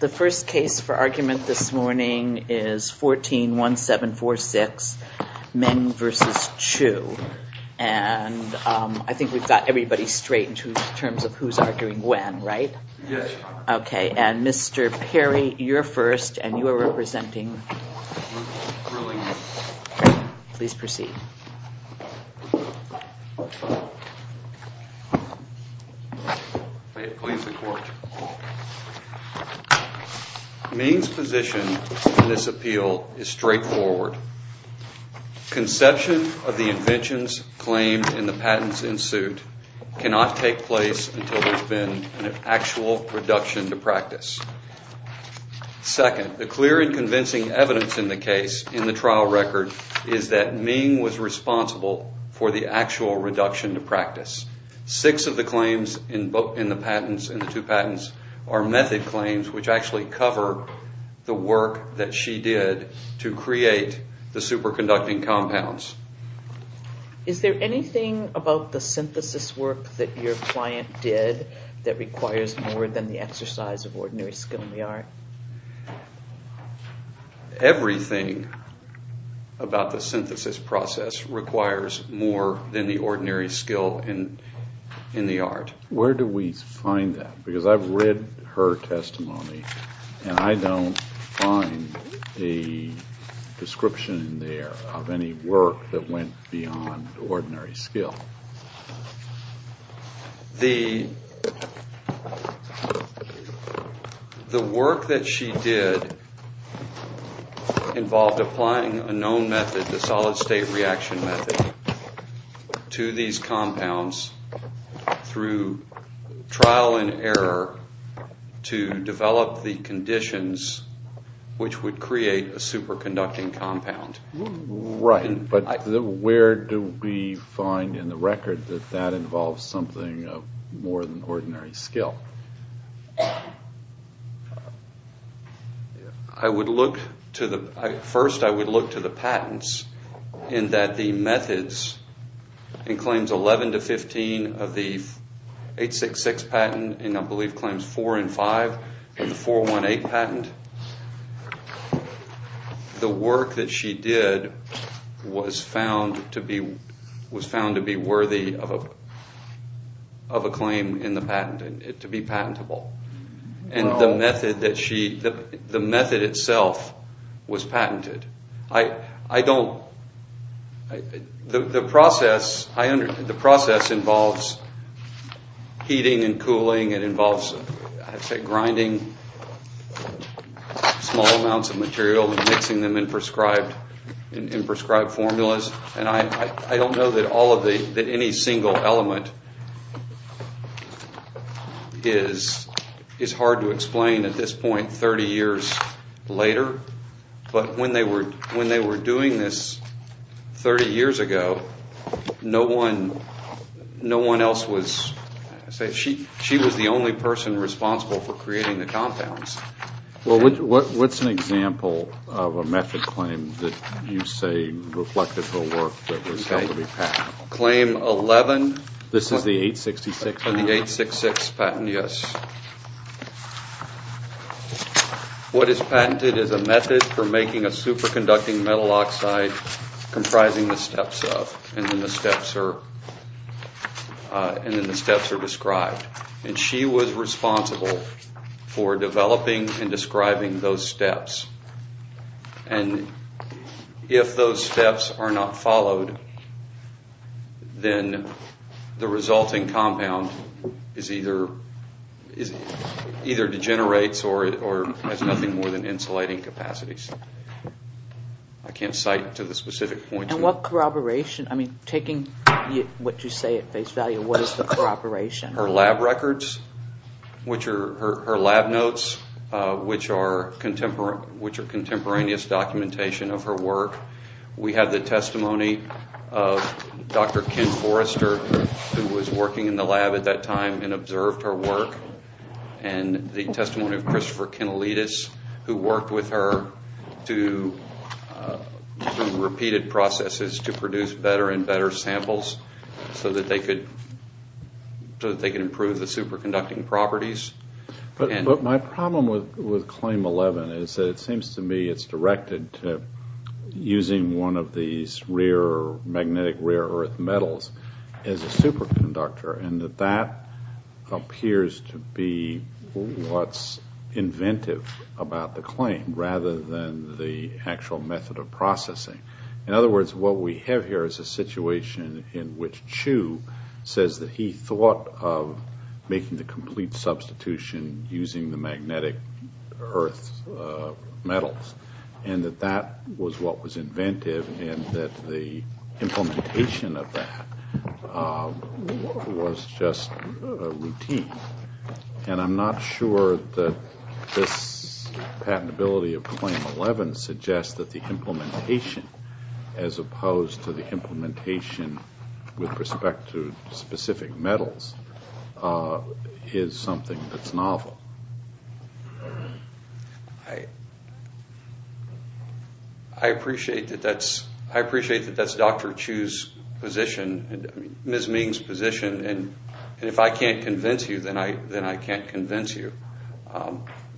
The first case for argument this morning is 14-1746, Meng v. Chu, and I think we've got everybody straight in terms of who's arguing when, right? Okay, and Mr. Perry, you're first and you are representing. Please proceed. Meng's position in this appeal is straightforward. Conception of the inventions claimed in the patents in suit cannot take place until there's actual reduction to practice. Second, the clear and convincing evidence in the case in the trial record is that Meng was responsible for the actual reduction to practice. Six of the claims in the patents, in the two patents, are method claims which actually cover the work that she did to create the superconducting compounds. Is there anything about the synthesis work that your client did that requires more than the exercise of ordinary skill in the art? Everything about the synthesis process requires more than the ordinary skill in the art. Where do we find that? Because I've read her testimony and I don't find a description in there of any work that went beyond ordinary skill. The work that she did involved applying a known method, the solid state reaction method, to these compounds through trial and error to develop the conditions which would create a superconducting compound. Right, but where do we find in the record that that involves something of more than ordinary skill? I would look to the, first I would look to the patents in that the methods in claims 11 to 15 of the 866 patent and I believe claims 4 and 5 in the 418 patent, the work that she did was found to be was found to be worthy of a claim in the patent, to be patentable. And the method that she, the method itself was patented. I don't, the process, I understand, the process involves heating and cooling, it involves grinding small amounts of material and mixing them in prescribed formulas and I don't know that all of the, that any single element is hard to explain at this point 30 years later, but when they were, when they were doing this 30 years ago, no one, no one else was, she was the only person responsible for creating the compounds. Well, what's an example of a method claim that you say reflected her work that was found to be patentable? Claim 11. This is the 866 patent? The 866 patent, yes. What is patented is a superconducting metal oxide comprising the steps of, and then the steps are, and then the steps are described. And she was responsible for developing and describing those steps. And if those steps are not followed, then the resulting compound is either, either degenerates or has nothing more than insulating capacities. I can't cite to the specific point. And what corroboration, I mean, taking what you say at face value, what is the corroboration? Her lab records, which are, her lab notes, which are contemporary, which are contemporaneous documentation of her work. We have the testimony of Dr. Ken Forrester, who was working in the lab at that time and observed her work, and the testimony of Christopher Kenelidis, who worked with her to, through repeated processes, to produce better and better samples so that they could, so that they could improve the superconducting properties. But my problem with, with Claim 11 is that it seems to me it's directed to using one of these rear, magnetic rear earth metals as a about the claim rather than the actual method of processing. In other words, what we have here is a situation in which Chu says that he thought of making the complete substitution using the magnetic earth metals, and that that was what was inventive, and that the implementation of that was just routine. And I'm not sure that this patentability of Claim 11 suggests that the implementation, as opposed to the implementation with respect to specific metals, is something that's novel. I, I appreciate that that's, I appreciate that that's Dr. Chu's position, Ms. Ming's position, and if I can't convince you, then I, then I can't convince you.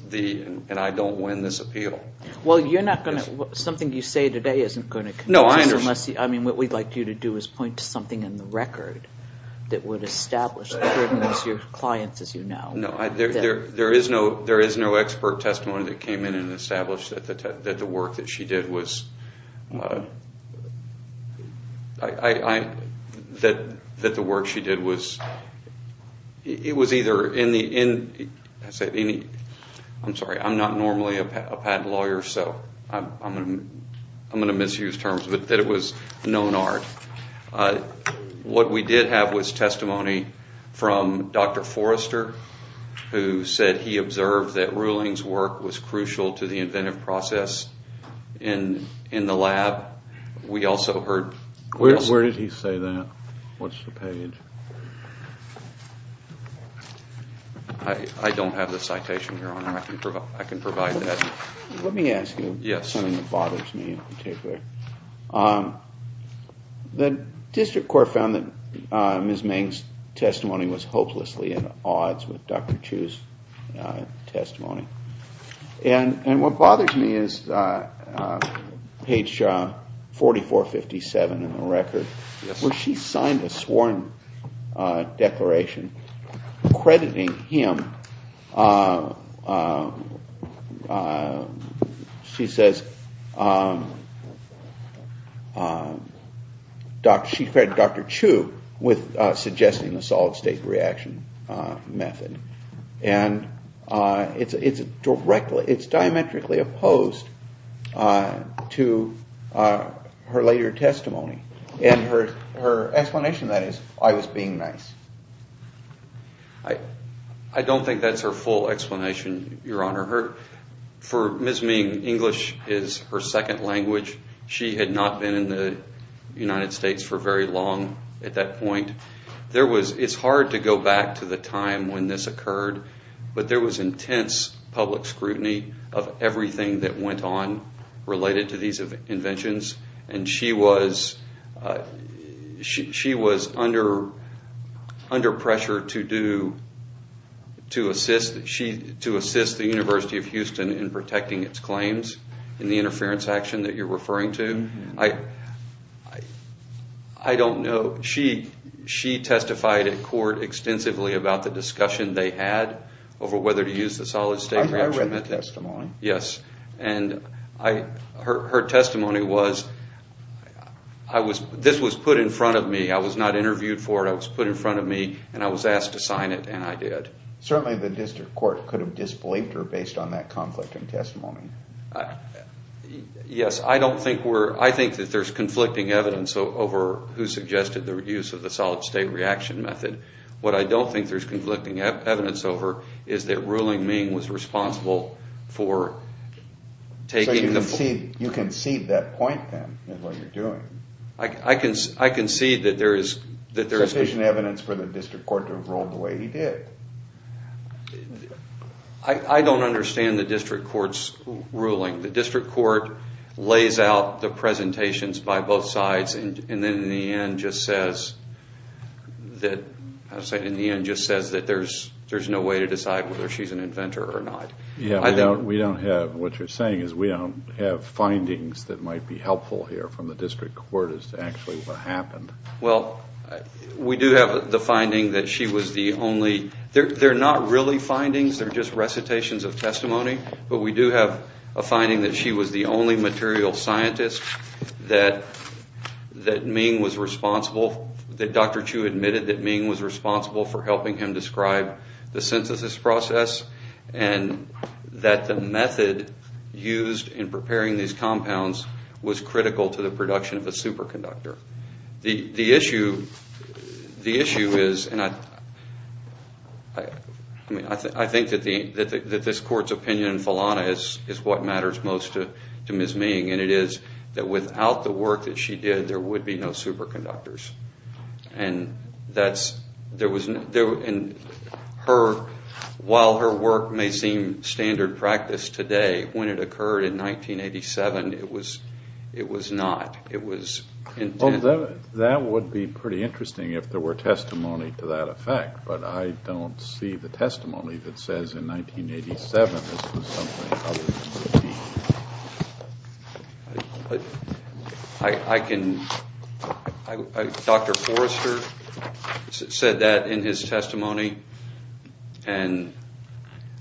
The, and I don't win this appeal. Well, you're not going to, something you say today isn't going to convince you. No, I understand. Unless, I mean, what we'd like you to do is point to something in the record that would establish the burden was your client's, as you know. No, I, there, there is no, there is no expert testimony that came in and established that the, that the work that she did was, I, I, that, that the work she did was, it was either in the, in, I'm sorry, I'm not normally a patent lawyer, so I'm going to misuse terms, but that it was known art. What we did have was testimony from Dr. Forrester, who said he observed that Ruling's work was crucial to the inventive process in, in the lab. We also heard. Where, where did he say that? What's the page? I, I don't have the citation, Your Honor. I can, I can provide that. Let me ask you. Yes. Something that bothers me in particular. The district court found that Ms. Ming's testimony, and, and what bothers me is page 4457 in the record. Yes. Where she signed a sworn declaration crediting him, she says, she credited Dr. Chu with her testimony. It's, it's directly, it's diametrically opposed to her later testimony. And her, her explanation that is, I was being nice. I, I don't think that's her full explanation, Your Honor. Her, for Ms. Ming, English is her second language. She had not been in the United States for very long at that point. There was, it's hard to go back to the time when this occurred, but there was intense public scrutiny of everything that went on related to these inventions. And she was, she, she was under, under pressure to do, to assist, she, to assist the University of Houston in protecting its claims in the interference action that you're referring to. I, I, I don't know. She, she testified in court extensively about the discussion they had over whether to use the solid state regimen. I read the testimony. Yes. And I, her, her testimony was, I was, this was put in front of me. I was not interviewed for it. It was put in front of me, and I was asked to sign it, and I did. Certainly the district court could have disbelieved her based on that conflicting testimony. Yes, I don't think we're, I think that there's conflicting evidence over who suggested the use of the solid state reaction method. What I don't think there's conflicting evidence over is that Ruling Ming was responsible for taking the... So you concede, you concede that point, then, in what you're doing. I, I concede that there is, that there is... evidence for the district court to have ruled the way he did. I, I don't understand the district court's ruling. The district court lays out the presentations by both sides and, and then in the end just says that, I was saying in the end just says that there's, there's no way to decide whether she's an inventor or not. Yeah, we don't, we don't have, what you're saying is we don't have findings that might be helpful here from the district court as to actually what happened. Well, we do have the finding that she was the only, they're, they're not really findings, they're just recitations of testimony, but we do have a finding that she was the only material scientist that, that Ming was responsible, that Dr. Chu admitted that Ming was responsible for helping him describe the synthesis process and that the method used in The, the issue, the issue is, and I, I mean, I think that the, that this court's opinion in Felana is, is what matters most to, to Ms. Ming, and it is that without the work that she did, there would be no superconductors. And that's, there was, there, and her, while her work may seem standard practice today, when it occurred in 1987, it was, it was not. It was intended. Well, that, that would be pretty interesting if there were testimony to that effect, but I don't see the testimony that says in 1987 this was something other than Ming. I, I can, I, Dr. Forrester said that in his testimony, and,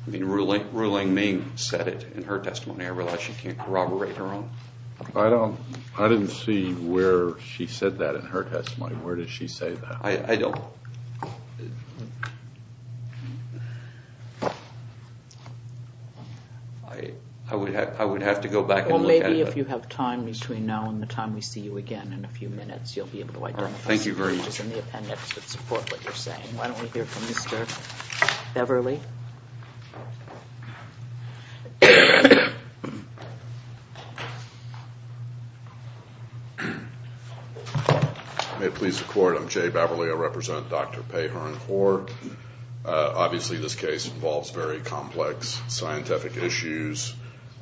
I mean, ruling, ruling Ming said it in her testimony. I realize she can't corroborate her own. I don't, I didn't see where she said that in her testimony. Where did she say that? I, I don't. I, I would have, I would have to go back and look at it. Well, maybe if you have time between now and the time we see you again in a few minutes, you'll be able to identify some changes in the appendix that support what you're saying. Why don't we hear from Mr. Beverley? May it please the court, I'm Jay Beverley. I represent Dr. Pei-Hern Hoar. Obviously, this case involves very complex scientific issues,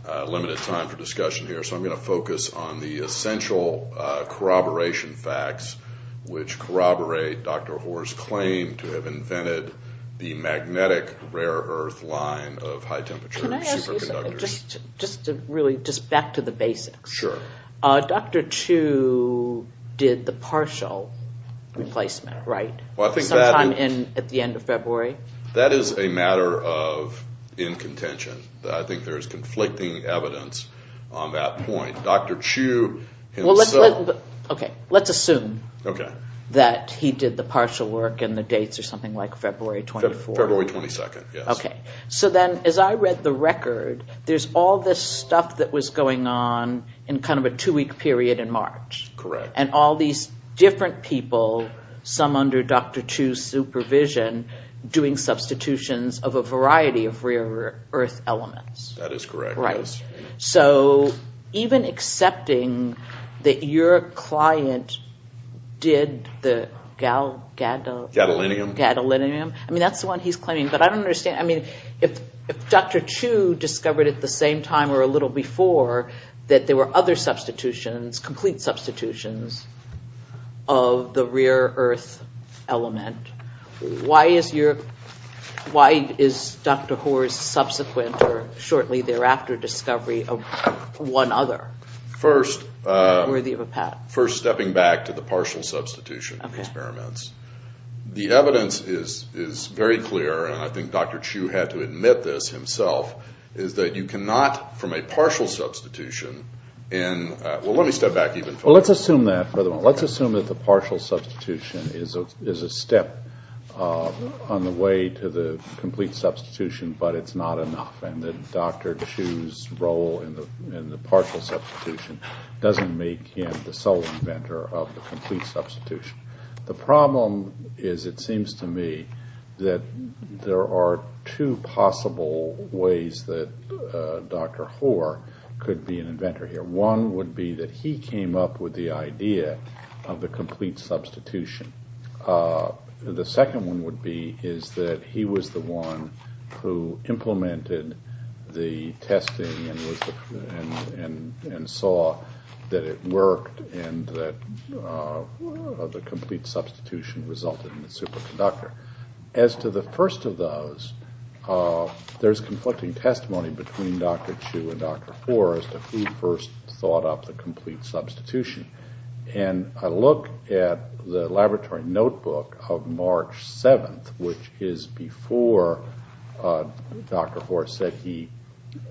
limited time for discussion here, so I'm going to focus on the essential corroboration facts which corroborate Dr. Hoar's claim to have invented the magnetic rare earth line of high temperature superconductors. Can I ask you something? Just, just to really, just back to the basics. Sure. Dr. Chu did the partial replacement, right? Well, I think that... Sometime in, at the end of February. That is a matter of incontention. I think there's conflicting evidence on that point. Dr. Chu himself... Okay, let's assume that he did the partial work and the dates are something like February 24th. February 22nd, yes. Okay. So then, as I read the record, there's all this stuff that was going on in kind of a two-week period in March. Correct. And all these different people, some under Dr. Chu's supervision, doing substitutions of a variety of rare earth elements. That is correct, yes. So, even accepting that your client did the gal... Gadolinium. Gadolinium. I mean, that's the one he's claiming, but I don't understand. I mean, if Dr. Chu discovered at the same time or a little before that there were other substitutions, complete substitutions of the rare earth element, why is your... Why is Dr. Hoare's subsequent or shortly thereafter discovery of one other? First... Not worthy of a pat. First, stepping back to the partial substitution experiments. Okay. The evidence is very clear, and I think Dr. Chu had to admit this himself, is that you cannot, from a partial substitution in... Well, let's assume that, by the way. Substitution is a step on the way to the complete substitution, but it's not enough. And that Dr. Chu's role in the partial substitution doesn't make him the sole inventor of the complete substitution. The problem is, it seems to me, that there are two possible ways that Dr. Hoare could be an inventor here. One would be that he came up with the idea of the complete substitution. The second one would be is that he was the one who implemented the testing and saw that it worked and that the complete substitution resulted in the superconductor. As to the first of those, there's conflicting testimony between Dr. Chu and Dr. Hoare as to who first thought up the complete substitution. And I look at the laboratory notebook of March 7th, which is before Dr. Hoare said he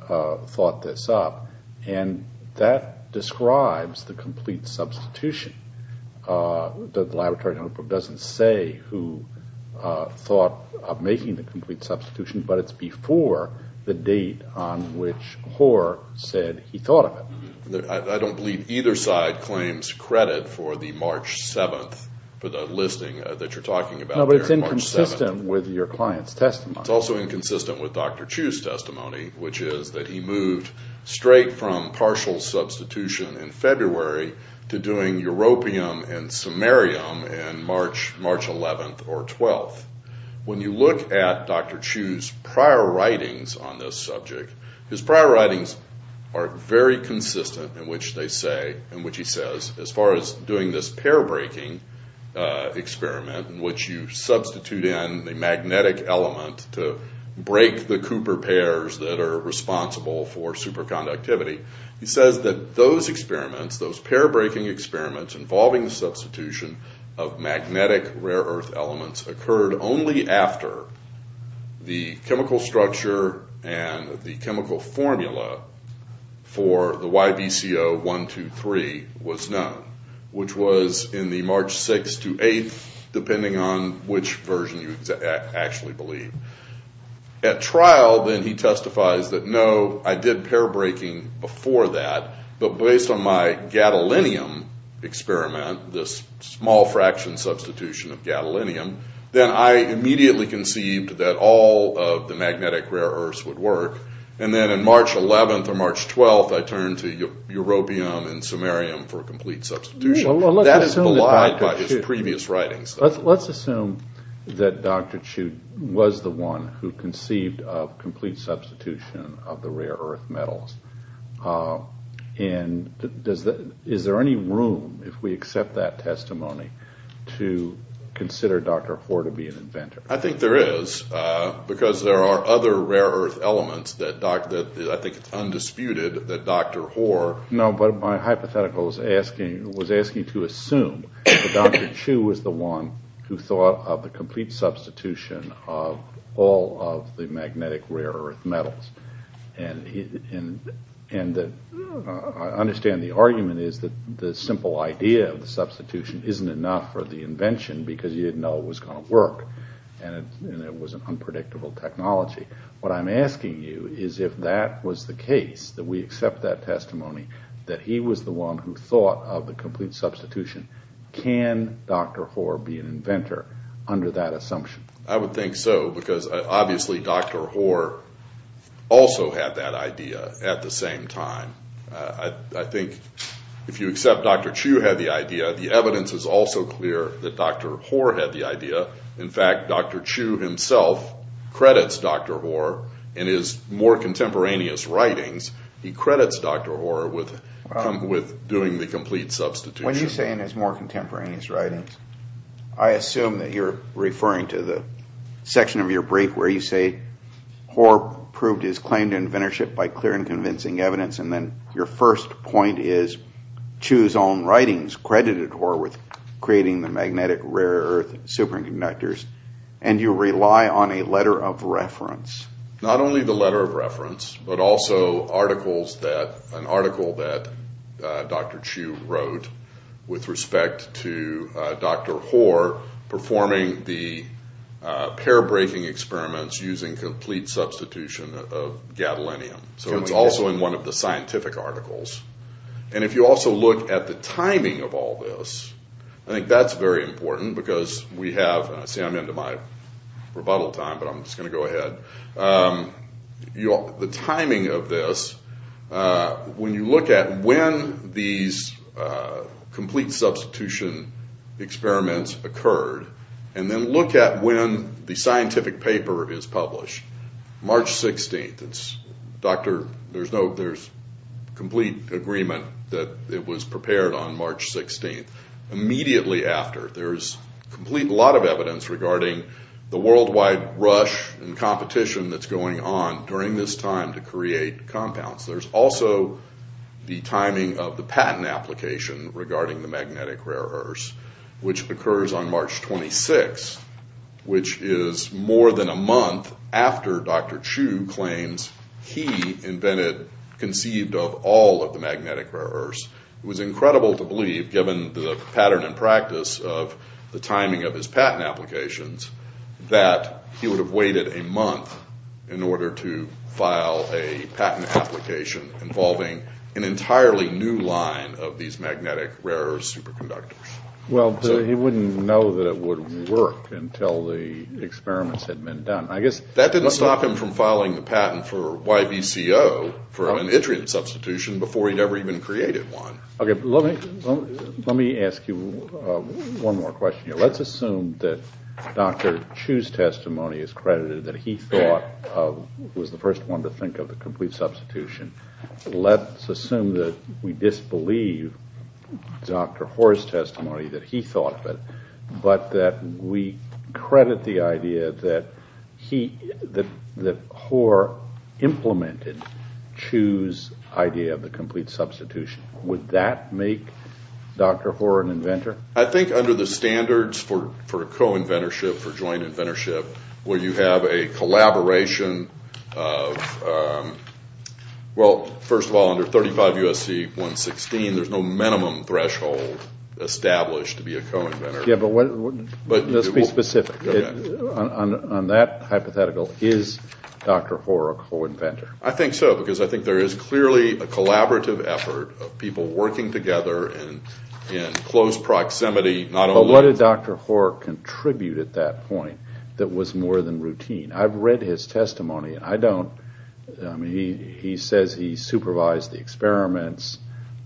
thought this up, and that describes the complete substitution. The laboratory notebook doesn't say who thought of making the complete I don't believe either side claims credit for the March 7th, for the listing that you're talking about there in March 7th. No, but it's inconsistent with your client's testimony. It's also inconsistent with Dr. Chu's testimony, which is that he moved straight from partial substitution in February to doing europium and samarium in March 11th or 12th. When you look at Dr. Chu's prior writings on this subject, his prior writings are very consistent in which they say, in which he says, as far as doing this pair-breaking experiment in which you substitute in the magnetic element to break the Cooper pairs that are responsible for superconductivity, he says that those experiments, those pair-breaking experiments involving the substitution of magnetic rare earth elements occurred only after the chemical structure and the chemical formula for the YBCO-123 was known, which was in the March 6th to 8th, depending on which version you actually believe. At trial, then, he testifies that, no, I did pair-breaking before that, but based on my gadolinium experiment, this small fraction substitution of gadolinium, then I immediately conceived that all of the magnetic rare earths would work, and then in March 11th or March 12th, I turned to europium and samarium for a complete substitution. That is belied by his previous writings. Let's assume that Dr. Chu was the one who conceived of complete substitution of the rare earth metals. And is there any room, if we accept that testimony, to consider Dr. Hoare to be an inventor? I think there is, because there are other rare earth elements that I think it's undisputed that Dr. Hoare... No, but my hypothetical was asking to assume that Dr. Chu was the one who thought of the complete substitution of all of the magnetic rare earth metals. And I understand the argument is that the simple idea of the substitution isn't enough for the invention because you didn't know it was going to work, and it was an unpredictable technology. What I'm asking you is if that was the case, that we accept that testimony, that he was the one who thought of the complete substitution, can Dr. Hoare be an inventor under that assumption? I would think so, because obviously Dr. Hoare also had that idea at the same time. I think if you accept Dr. Chu had the idea, the evidence is also clear that Dr. Hoare had the idea. In fact, Dr. Chu himself credits Dr. Hoare in his more contemporaneous writings, he credits Dr. Hoare with doing the complete substitution. When you say in his more contemporaneous writings, I assume that you're referring to the section of your brief where you say Hoare proved his claim to inventorship by clear and convincing evidence, and then your first point is Chu's own writings credited Hoare with creating the magnetic rare earth superconductors, and you rely on a letter of reference. Not only the letter of reference, but also an article that Dr. Chu wrote with respect to Dr. Hoare performing the pair-breaking experiments using complete substitution of gadolinium. So it's also in one of the scientific articles. And if you also look at the timing of all this, I think that's very important, because we have... See, I'm into my rebuttal time, but I'm just going to go ahead. The timing of this, when you look at when these complete substitution experiments occurred, and then look at when the scientific paper is published, March 16th, there's complete agreement that it was prepared on March 16th. Immediately after, there's a lot of evidence regarding the worldwide rush and competition that's going on during this time to create compounds. There's also the timing of the patent application regarding the magnetic rare earths, which occurs on March 26th, which is more than a month after Dr. Chu claims he invented, conceived of, all of the magnetic rare earths. It was incredible to believe, given the pattern and practice of the timing of his patent applications, that he would have waited a month in order to file a patent application involving an entirely new line of these magnetic rare earths superconductors. Well, he wouldn't know that it would work until the experiments had been done. That didn't stop him from filing the patent for YBCO, for an intranet substitution, before he'd ever even created one. Okay, let me ask you one more question here. Let's assume that Dr. Chu's testimony is credited, that he thought was the first one to think of the complete substitution. Let's assume that we disbelieve Dr. Hoare's testimony, that he thought of it, but that we credit the idea that Hoare implemented Chu's idea of the complete substitution. Would that make Dr. Hoare an inventor? I think under the standards for co-inventorship, for joint inventorship, where you have a collaboration of... Well, first of all, under 35 U.S.C. 116, there's no minimum threshold established to be a co-inventor. Yeah, but let's be specific. On that hypothetical, is Dr. Hoare a co-inventor? I think so, because I think there is clearly a collaborative effort of people working together in close proximity, not only... I've read his testimony. He says he supervised the experiments,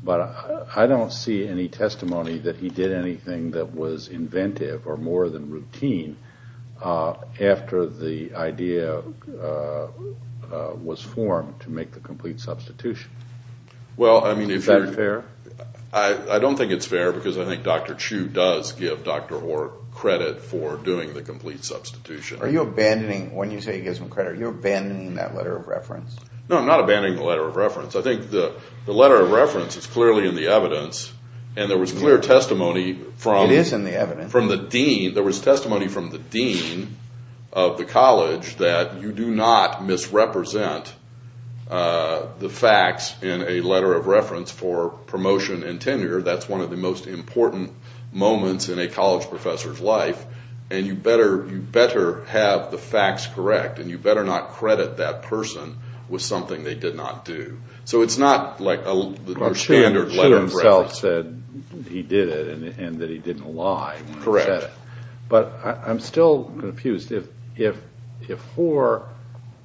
but I don't see any testimony that he did anything that was inventive or more than routine after the idea was formed to make the complete substitution. Is that fair? I don't think it's fair, because I think Dr. Chu does give Dr. Hoare credit for doing the complete substitution. Are you abandoning... When you say you give him credit, are you abandoning that letter of reference? No, I'm not abandoning the letter of reference. I think the letter of reference is clearly in the evidence, and there was clear testimony from... It is in the evidence. There was testimony from the dean of the college that you do not misrepresent the facts in a letter of reference for promotion and tenure. That's one of the most important moments in a college professor's life, and you better have the facts correct, and you better not credit that person with something they did not do. So it's not like a standard letter of reference. Dr. Chu himself said he did it and that he didn't lie when he said it. Correct. But I'm still confused. If Hoare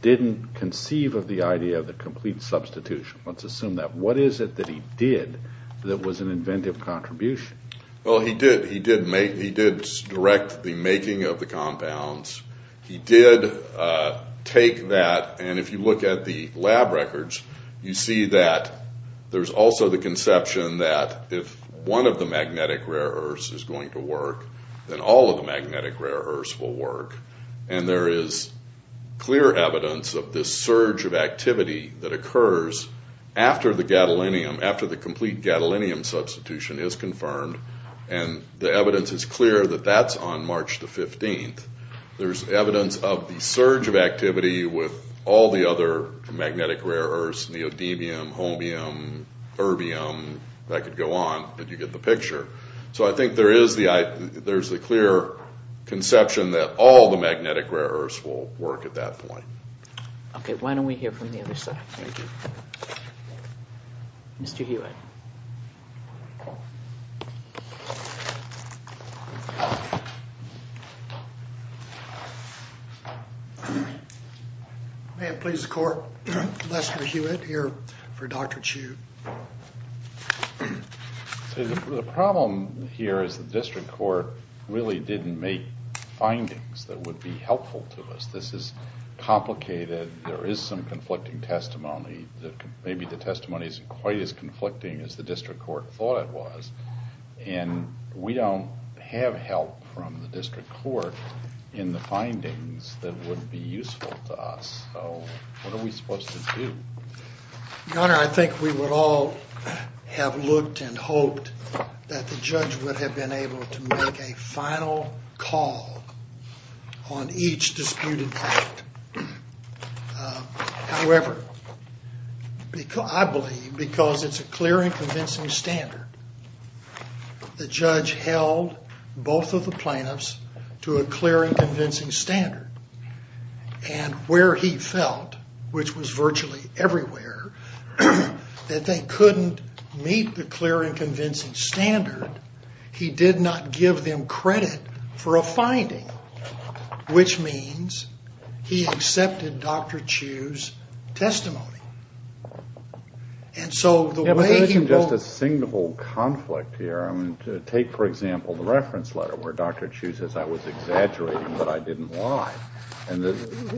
didn't conceive of the idea of the complete substitution, let's assume that, what is it that he did that was an inventive contribution? Well, he did direct the making of the compounds. He did take that, and if you look at the lab records, you see that there's also the conception that if one of the magnetic rare earths is going to work, then all of the magnetic rare earths will work. And there is clear evidence of this surge of activity that occurs after the complete gadolinium substitution is confirmed, and the evidence is clear that that's on March the 15th. There's evidence of the surge of activity with all the other magnetic rare earths, neodymium, homium, erbium, that could go on, and you get the picture. So I think there is the clear conception that all the magnetic rare earths will work at that point. Okay, why don't we hear from the other side? Mr. Hewitt. May it please the court, Lester Hewitt here for Dr. Chu. The problem here is the district court really didn't make findings that would be helpful to us. This is complicated. There is some conflicting testimony. Maybe the testimony isn't quite as conflicting as the district court thought it was, and we don't have help from the district court in the findings that would be useful to us. So what are we supposed to do? Your Honor, I think we would all have looked and hoped that the judge would have been able to make a final call on each disputed act. However, I believe because it's a clear and convincing standard, the judge held both of the plaintiffs to a clear and convincing standard, and where he felt, which was virtually everywhere, that they couldn't meet the clear and convincing standard, he did not give them credit for a finding, which means he accepted Dr. Chu's testimony. And so the way he will- Yeah, but there isn't just a single conflict here. Take, for example, the reference letter where Dr. Chu says, I was exaggerating, but I didn't lie. And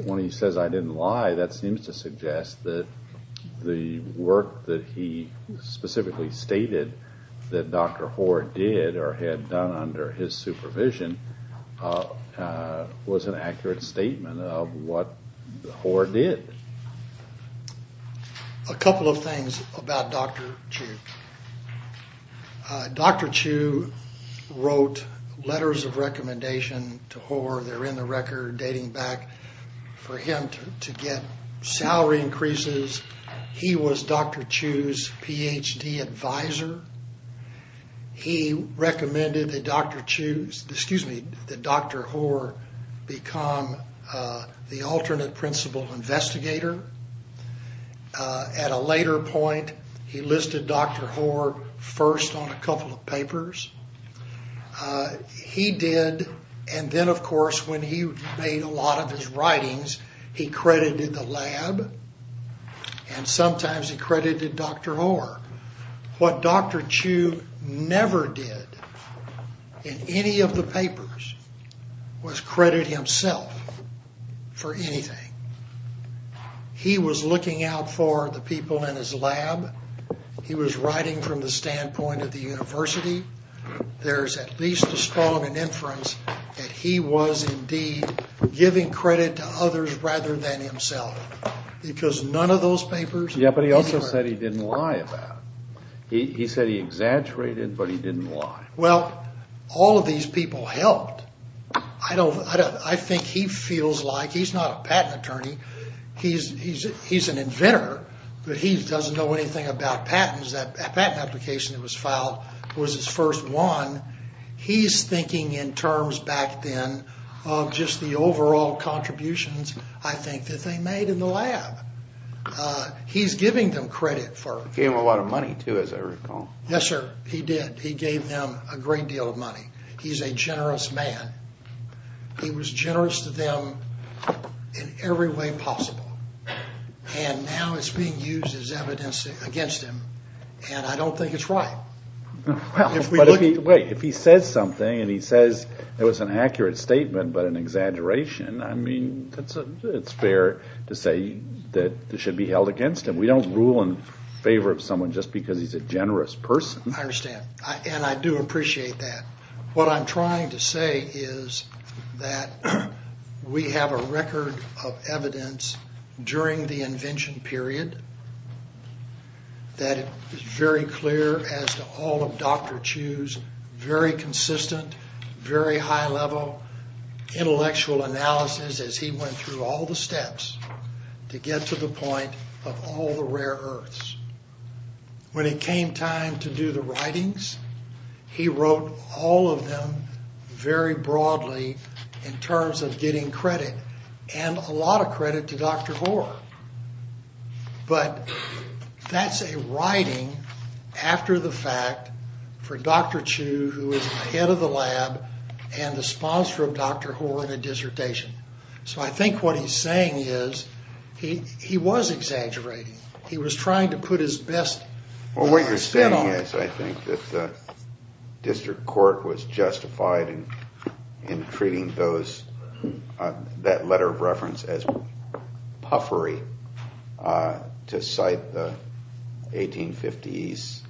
when he says, I didn't lie, that seems to suggest that the work that he specifically stated that Dr. Hoare did or had done under his supervision was an accurate statement of what Hoare did. A couple of things about Dr. Chu. They're in the record dating back for him to get salary increases. He was Dr. Chu's Ph.D. advisor. He recommended that Dr. Chu- excuse me, that Dr. Hoare become the alternate principal investigator. At a later point, he listed Dr. Hoare first on a couple of papers. He did, and then of course when he made a lot of his writings, he credited the lab and sometimes he credited Dr. Hoare. What Dr. Chu never did in any of the papers was credit himself for anything. He was looking out for the people in his lab. He was writing from the standpoint of the university. There's at least a strong inference that he was indeed giving credit to others rather than himself. Because none of those papers- Yeah, but he also said he didn't lie about it. He said he exaggerated, but he didn't lie. Well, all of these people helped. I think he feels like- he's not a patent attorney. He's an inventor, but he doesn't know anything about patents. That patent application that was filed was his first one. He's thinking in terms back then of just the overall contributions, I think, that they made in the lab. He's giving them credit for- He gave them a lot of money, too, as I recall. Yes, sir, he did. He gave them a great deal of money. He's a generous man. He was generous to them in every way possible. And now it's being used as evidence against him, and I don't think it's right. Wait, if he says something and he says it was an accurate statement but an exaggeration, I mean, it's fair to say that it should be held against him. We don't rule in favor of someone just because he's a generous person. I understand, and I do appreciate that. What I'm trying to say is that we have a record of evidence during the invention period that is very clear as to all of Dr. Chu's very consistent, very high-level intellectual analysis as he went through all the steps to get to the point of all the rare earths. When it came time to do the writings, he wrote all of them very broadly in terms of getting credit, and a lot of credit to Dr. Hoare. But that's a writing after the fact for Dr. Chu, who is the head of the lab and the sponsor of Dr. Hoare in a dissertation. So I think what he's saying is he was exaggerating. He was trying to put his best spin on it. Well, what you're saying is I think that the district court was justified in treating that letter of reference as puffery to cite the 1850s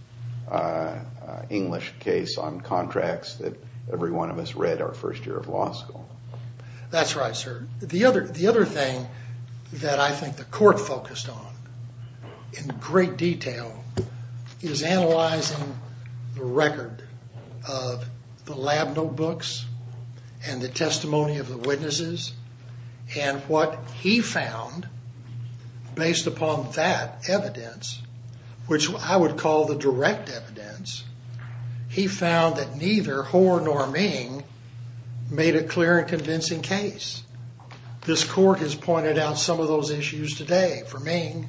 English case on contracts that every one of us read our first year of law school. That's right, sir. The other thing that I think the court focused on in great detail is analyzing the record of the lab notebooks and the testimony of the witnesses and what he found based upon that evidence, which I would call the direct evidence. He found that neither Hoare nor Ming made a clear and convincing case. This court has pointed out some of those issues today. For Ming,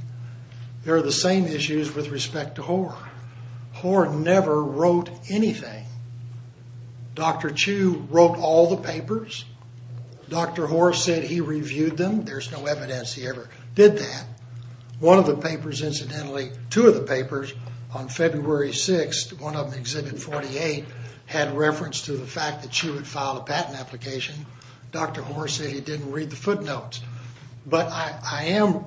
they're the same issues with respect to Hoare. Hoare never wrote anything. Dr. Chu wrote all the papers. Dr. Hoare said he reviewed them. There's no evidence he ever did that. One of the papers, incidentally, two of the papers on February 6th, one of them Exhibit 48, had reference to the fact that Chu had filed a patent application. Dr. Hoare said he didn't read the footnotes. But I am,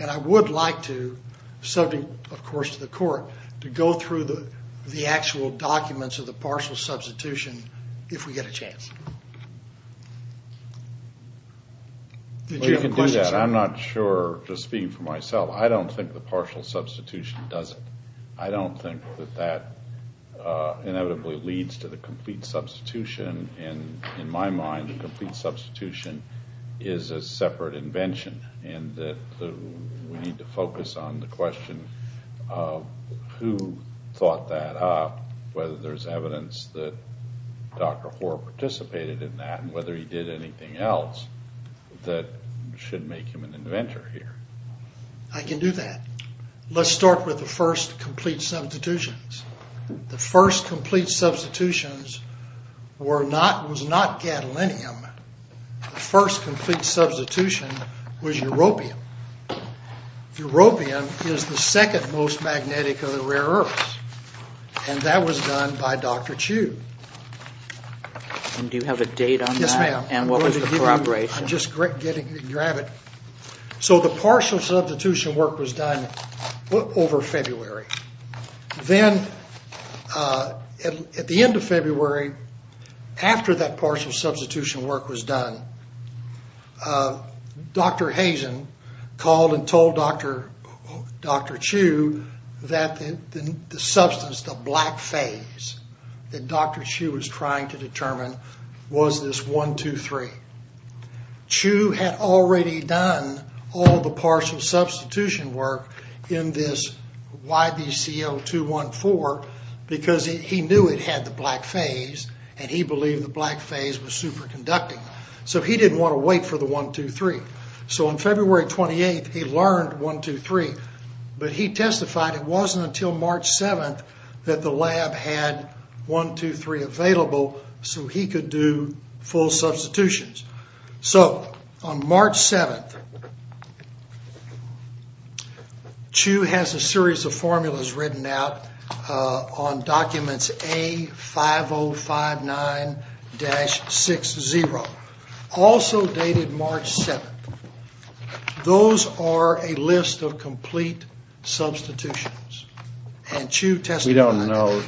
and I would like to, subject, of course, to the court, to go through the actual documents of the partial substitution if we get a chance. Did you have a question, sir? I'm not sure, just speaking for myself, I don't think the partial substitution does it. I don't think that that inevitably leads to the complete substitution, and in my mind the complete substitution is a separate invention and that we need to focus on the question of who thought that up, whether there's evidence that Dr. Hoare participated in that, and whether he did anything else that should make him an inventor here. I can do that. Let's start with the first complete substitutions. The first complete substitutions was not gadolinium. The first complete substitution was europium. Europium is the second most magnetic of the rare earths, and that was done by Dr. Chu. And do you have a date on that? Yes, ma'am. And what was the corroboration? I'm just getting to grab it. So the partial substitution work was done over February. Then at the end of February, after that partial substitution work was done, Dr. Hazen called and told Dr. Chu that the substance, the black phase, that Dr. Chu was trying to determine was this 1,2,3. Chu had already done all the partial substitution work in this YBCO214 because he knew it had the black phase, and he believed the black phase was superconducting. So he didn't want to wait for the 1,2,3. So on February 28th, he learned 1,2,3, but he testified it wasn't until March 7th that the lab had 1,2,3 available so he could do full substitutions. So on March 7th, Chu has a series of formulas written out on documents A5059-60, also dated March 7th. Those are a list of complete substitutions. We don't know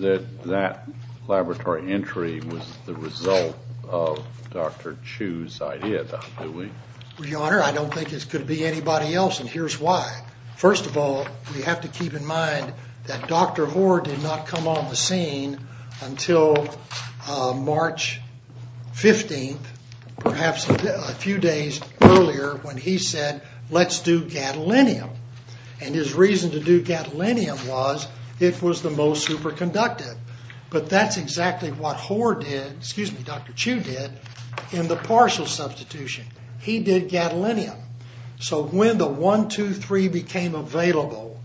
that that laboratory entry was the result of Dr. Chu's idea, do we? Your Honor, I don't think it could be anybody else, and here's why. First of all, we have to keep in mind that Dr. Hoare did not come on the scene until March 15th, perhaps a few days earlier, when he said, let's do gadolinium, and his reason to do gadolinium was it was the most superconductive. But that's exactly what Hoare did, excuse me, Dr. Chu did in the partial substitution. He did gadolinium. So when the 1,2,3 became available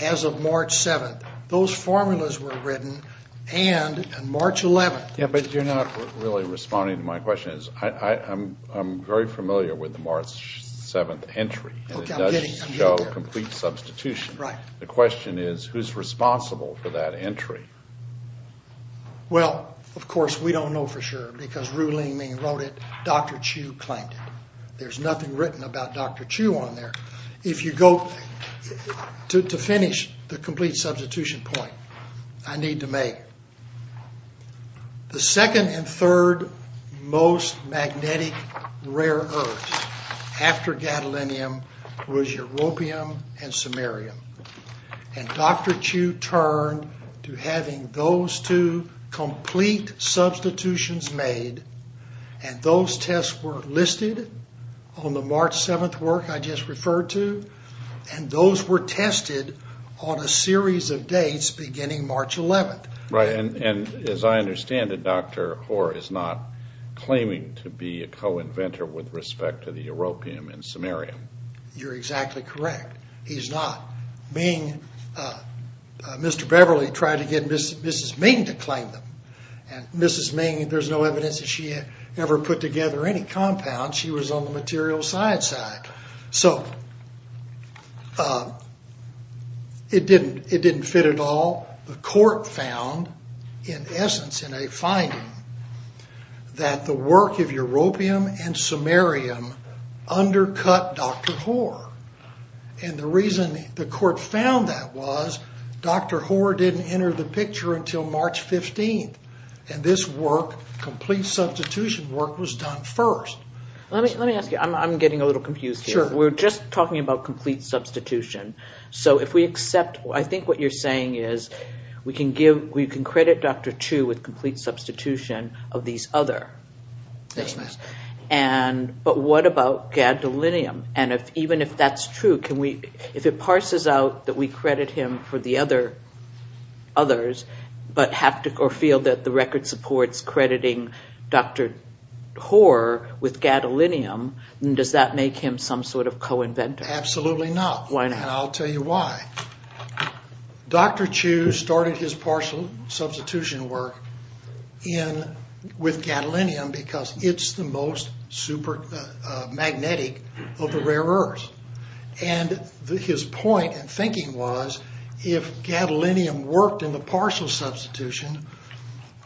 as of March 7th, those formulas were written and on March 11th. Yeah, but you're not really responding to my question. My question is, I'm very familiar with the March 7th entry. Okay, I'm getting there. It does show complete substitution. Right. The question is, who's responsible for that entry? Well, of course, we don't know for sure, because Ru-Ling Ming wrote it. Dr. Chu claimed it. There's nothing written about Dr. Chu on there. If you go, to finish the complete substitution point I need to make, the second and third most magnetic rare earths after gadolinium was europium and samarium. And Dr. Chu turned to having those two complete substitutions made, and those tests were listed on the March 7th work I just referred to, and those were tested on a series of dates beginning March 11th. Right, and as I understand it, Dr. Hoare is not claiming to be a co-inventor with respect to the europium and samarium. You're exactly correct. He's not. Mr. Beverly tried to get Mrs. Ming to claim them, and Mrs. Ming, there's no evidence that she ever put together any compounds. She was on the material science side. So, it didn't fit at all. The court found, in essence, in a finding, that the work of europium and samarium undercut Dr. Hoare. And the reason the court found that was Dr. Hoare didn't enter the picture until March 15th, and this work, complete substitution work, was done first. Let me ask you, I'm getting a little confused here. Sure. We're just talking about complete substitution. So, if we accept, I think what you're saying is, we can credit Dr. Tu with complete substitution of these other. Yes, ma'am. But what about gadolinium? And even if that's true, if it parses out that we credit him for the others, but feel that the record supports crediting Dr. Hoare with gadolinium, does that make him some sort of co-inventor? Absolutely not. Why not? And I'll tell you why. Dr. Tu started his partial substitution work with gadolinium because it's the most magnetic of the rare earths. And his point and thinking was, if gadolinium worked in the partial substitution,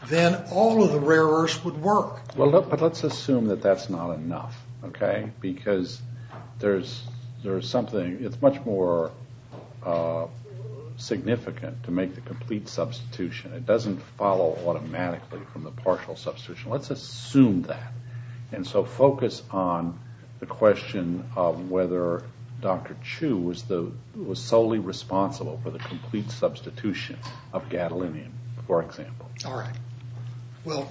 then all of the rare earths would work. But let's assume that that's not enough, okay? Because there's something, it's much more significant to make the complete substitution. It doesn't follow automatically from the partial substitution. Let's assume that. And so focus on the question of whether Dr. Tu was solely responsible for the complete substitution of gadolinium, for example. All right. Well,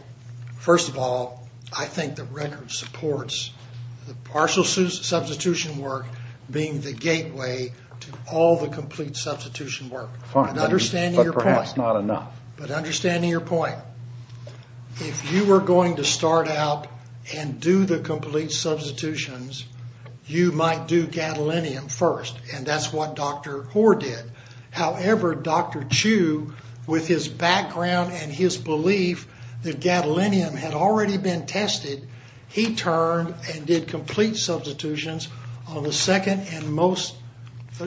first of all, I think the record supports the partial substitution work being the gateway to all the complete substitution work. But perhaps not enough. But understanding your point, if you were going to start out and do the complete substitutions, you might do gadolinium first, and that's what Dr. Hoare did. However, Dr. Tu, with his background and his belief that gadolinium had already been tested, he turned and did complete substitutions on the second and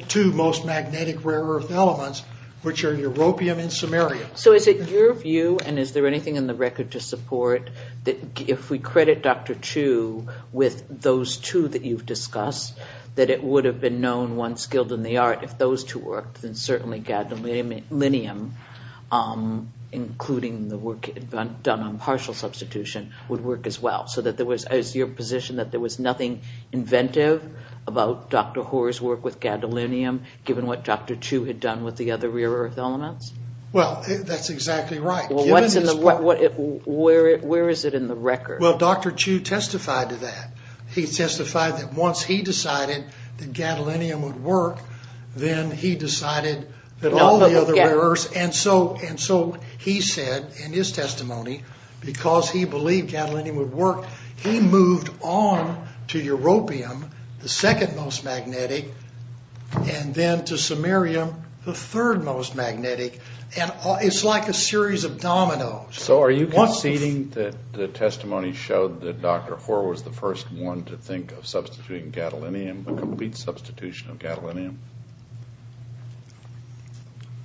two most magnetic rare earth elements, which are europium and samarium. So is it your view, and is there anything in the record to support, that if we credit Dr. Tu with those two that you've discussed, that it would have been known once skilled in the art if those two worked, then certainly gadolinium, including the work done on partial substitution, would work as well? So is it your position that there was nothing inventive about Dr. Hoare's work with gadolinium, given what Dr. Tu had done with the other rare earth elements? Well, that's exactly right. Where is it in the record? Well, Dr. Tu testified to that. He testified that once he decided that gadolinium would work, then he decided that all the other rare earths, and so he said in his testimony, because he believed gadolinium would work, he moved on to europium, the second most magnetic, and then to samarium, the third most magnetic, and it's like a series of dominoes. So are you conceding that the testimony showed that Dr. Hoare was the first one to think of substituting gadolinium, a complete substitution of gadolinium?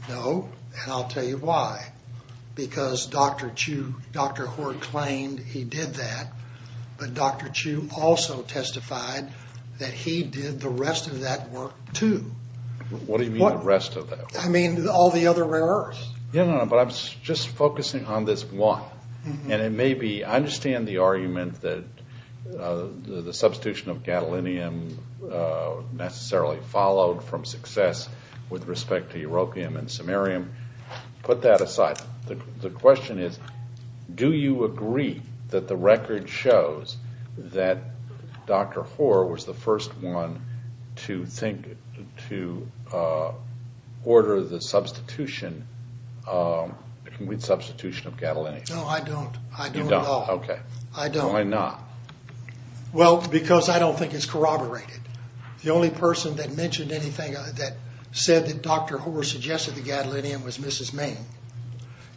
No, and I'll tell you why. Because Dr. Hoare claimed he did that, but Dr. Tu also testified that he did the rest of that work, too. What do you mean the rest of that work? I mean all the other rare earths. But I'm just focusing on this one, and it may be, I understand the argument that the substitution of gadolinium necessarily followed from success with respect to europium and samarium. Put that aside. The question is do you agree that the record shows that Dr. Hoare was the first one to think, to order the substitution of gadolinium? No, I don't. You don't? Okay. I don't. Why not? Well, because I don't think it's corroborated. The only person that mentioned anything that said that Dr. Hoare suggested the gadolinium was Mrs. Main.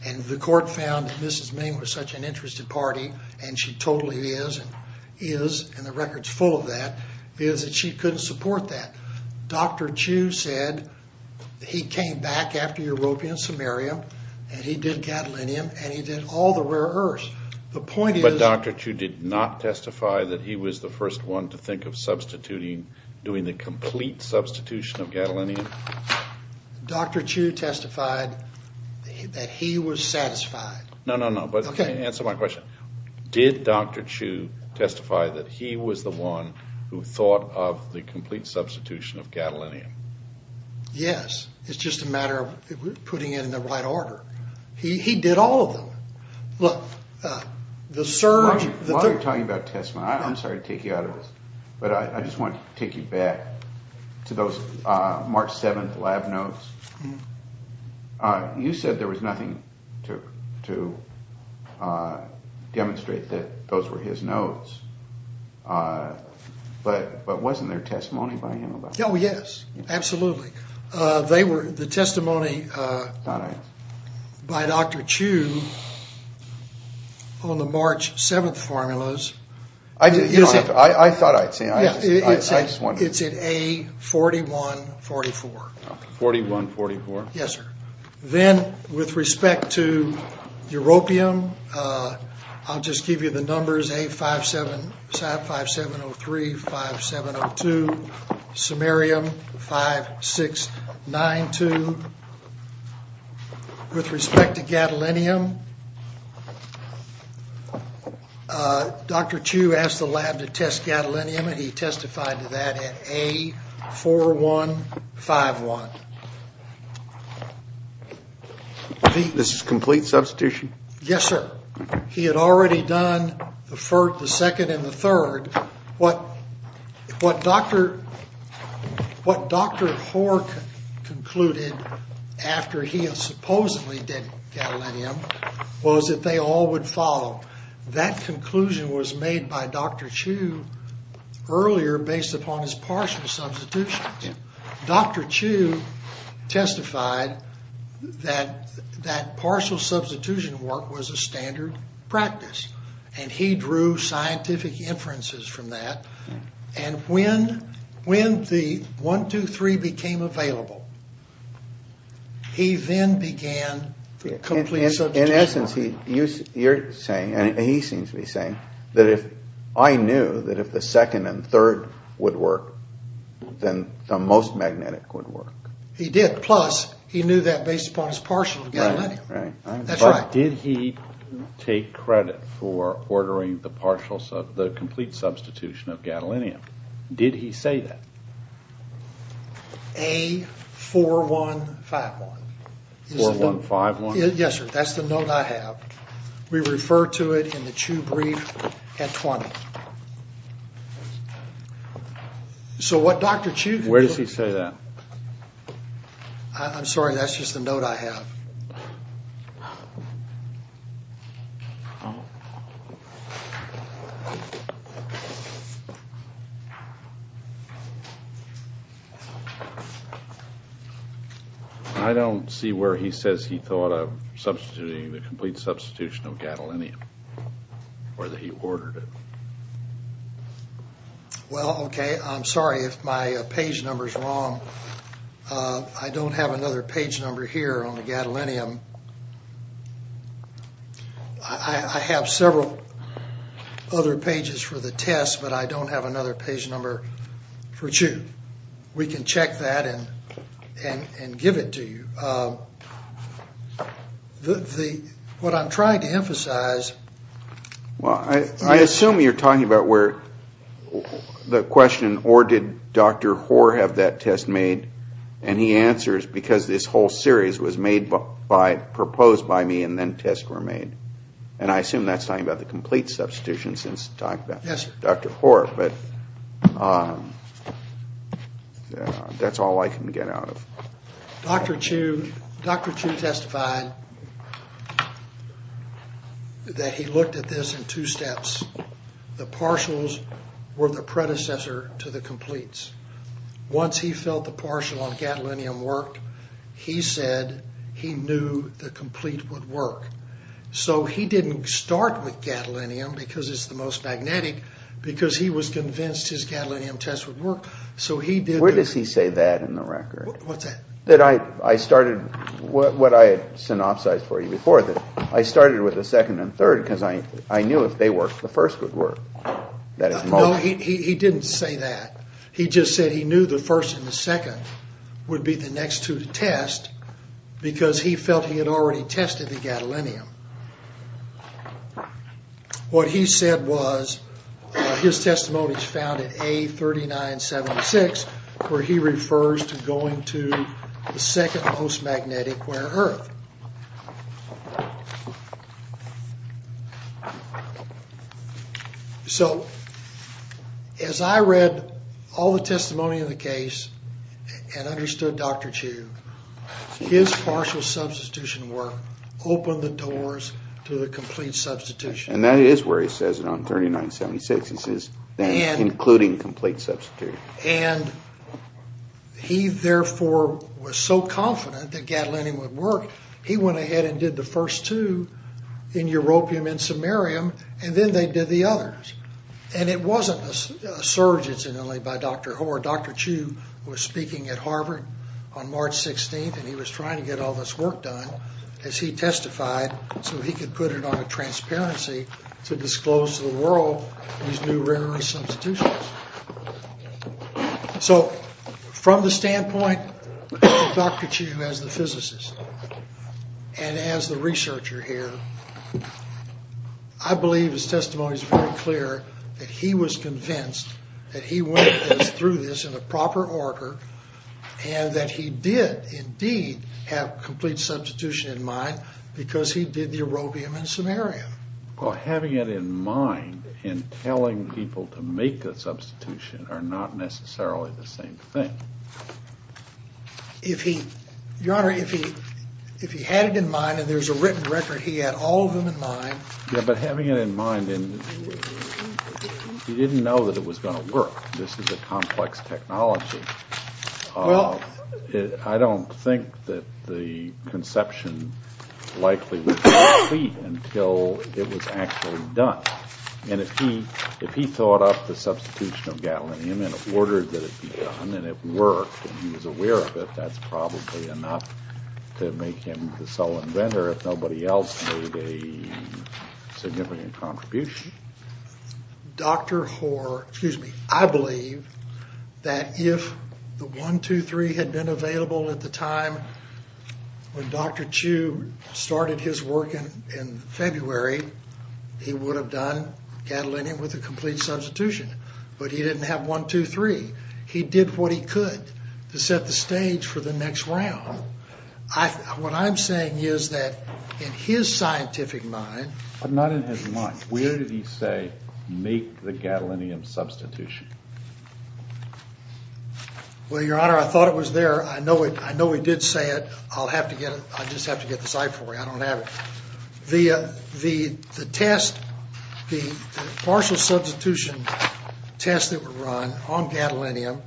And the court found that Mrs. Main was such an interested party, and she totally is, and the record's full of that, is that she couldn't support that. Dr. Tu said he came back after europium and samarium, and he did gadolinium, and he did all the rare earths. The point is— But Dr. Tu did not testify that he was the first one to think of substituting, doing the complete substitution of gadolinium? Dr. Tu testified that he was satisfied. No, no, no. Okay. Answer my question. Did Dr. Tu testify that he was the one who thought of the complete substitution of gadolinium? Yes. It's just a matter of putting it in the right order. He did all of them. Look, the surge— While you're talking about testimony, I'm sorry to take you out of this, but I just want to take you back to those March 7th lab notes. You said there was nothing to demonstrate that those were his notes, but wasn't there testimony by him about that? Oh, yes, absolutely. The testimony by Dr. Tu on the March 7th formulas— I thought I'd seen it. It's in A4144. 4144. Yes, sir. Then with respect to europium, I'll just give you the numbers, A5703, 5702, samarium 5692. With respect to gadolinium, Dr. Tu asked the lab to test gadolinium, and he testified to that at A4151. This is complete substitution? Yes, sir. He had already done the second and the third. What Dr. Hoare concluded after he supposedly did gadolinium was that they all would follow. That conclusion was made by Dr. Tu earlier based upon his partial substitutions. Dr. Tu testified that that partial substitution work was a standard practice, and he drew scientific inferences from that. And when the 123 became available, he then began the complete substitution work. In essence, you're saying, and he seems to be saying, that if I knew that if the second and third would work, then the most magnetic would work. He did. Plus, he knew that based upon his partial gadolinium. Right, right. That's right. Did he take credit for ordering the complete substitution of gadolinium? Did he say that? A4151. 4151? Yes, sir. That's the note I have. We refer to it in the Tu brief at 20. Where does he say that? I'm sorry. That's just a note I have. I don't see where he says he thought of substituting the complete substitution of gadolinium or that he ordered it. Well, okay. I'm sorry if my page number is wrong. I don't have another page number here on the gadolinium. I have several other pages for the test, but I don't have another page number for Chu. We can check that and give it to you. What I'm trying to emphasize. Well, I assume you're talking about where the question, or did Dr. Hoare have that test made? And he answers, because this whole series was made by, proposed by me and then tests were made. And I assume that's talking about the complete substitution since Dr. Hoare, but that's all I can get out of it. Dr. Chu testified that he looked at this in two steps. The partials were the predecessor to the completes. Once he felt the partial on gadolinium worked, he said he knew the complete would work. So he didn't start with gadolinium because it's the most magnetic, because he was convinced his gadolinium test would work. Where does he say that in the record? What's that? That I started, what I had synopsized for you before, that I started with the second and third because I knew if they worked, the first would work. No, he didn't say that. He just said he knew the first and the second would be the next two to test because he felt he had already tested the gadolinium. What he said was, his testimony is found in A3976 where he refers to going to the second most magnetic where earth. So as I read all the testimony in the case and understood Dr. Chu, his partial substitution work opened the doors to the complete substitution. And that is where he says it on A3976, including complete substitution. And he therefore was so confident that gadolinium would work, he went ahead and did the first two in europium and samarium and then they did the others. And it wasn't a surge incidentally by Dr. Hoare. Dr. Chu was speaking at Harvard on March 16th and he was trying to get all this work done, as he testified, so he could put it on a transparency to disclose to the world these new rare-earth substitutions. So from the standpoint of Dr. Chu as the physicist and as the researcher here, I believe his testimony is very clear that he was convinced that he went through this in a proper order and that he did indeed have complete substitution in mind because he did the europium and samarium. Well, having it in mind and telling people to make the substitution are not necessarily the same thing. Your Honor, if he had it in mind and there's a written record, he had all of them in mind. Yeah, but having it in mind, he didn't know that it was going to work. This is a complex technology. I don't think that the conception likely would be complete until it was actually done. And if he thought up the substitution of gadolinium and ordered that it be done and it worked and he was aware of it, that's probably enough to make him the sole inventor if nobody else made a significant contribution. Dr. Hoare, excuse me, I believe that if the 1, 2, 3 had been available at the time when Dr. Chu started his work in February, he would have done gadolinium with a complete substitution. But he didn't have 1, 2, 3. He did what he could to set the stage for the next round. What I'm saying is that in his scientific mind... But not in his mind. Where did he say make the gadolinium substitution? Well, Your Honor, I thought it was there. I know he did say it. I'll just have to get the site for you. I don't have it. The test, the partial substitution tests that were run on gadolinium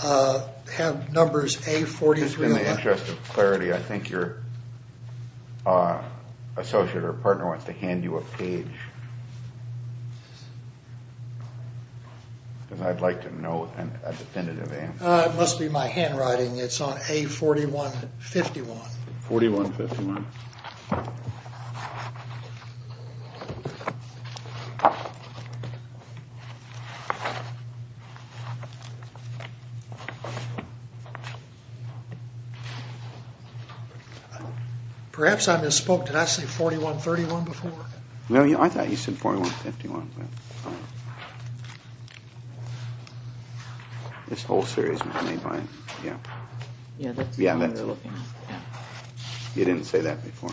have numbers A-43-1. Just in the interest of clarity, I think your associate or partner wants to hand you a page. Because I'd like to know a definitive answer. It must be my handwriting. It's on A-41-51. 41-51. Perhaps I misspoke. Did I say 41-31 before? No, I thought you said 41-51. This whole series was made by him. Yeah. You didn't say that before.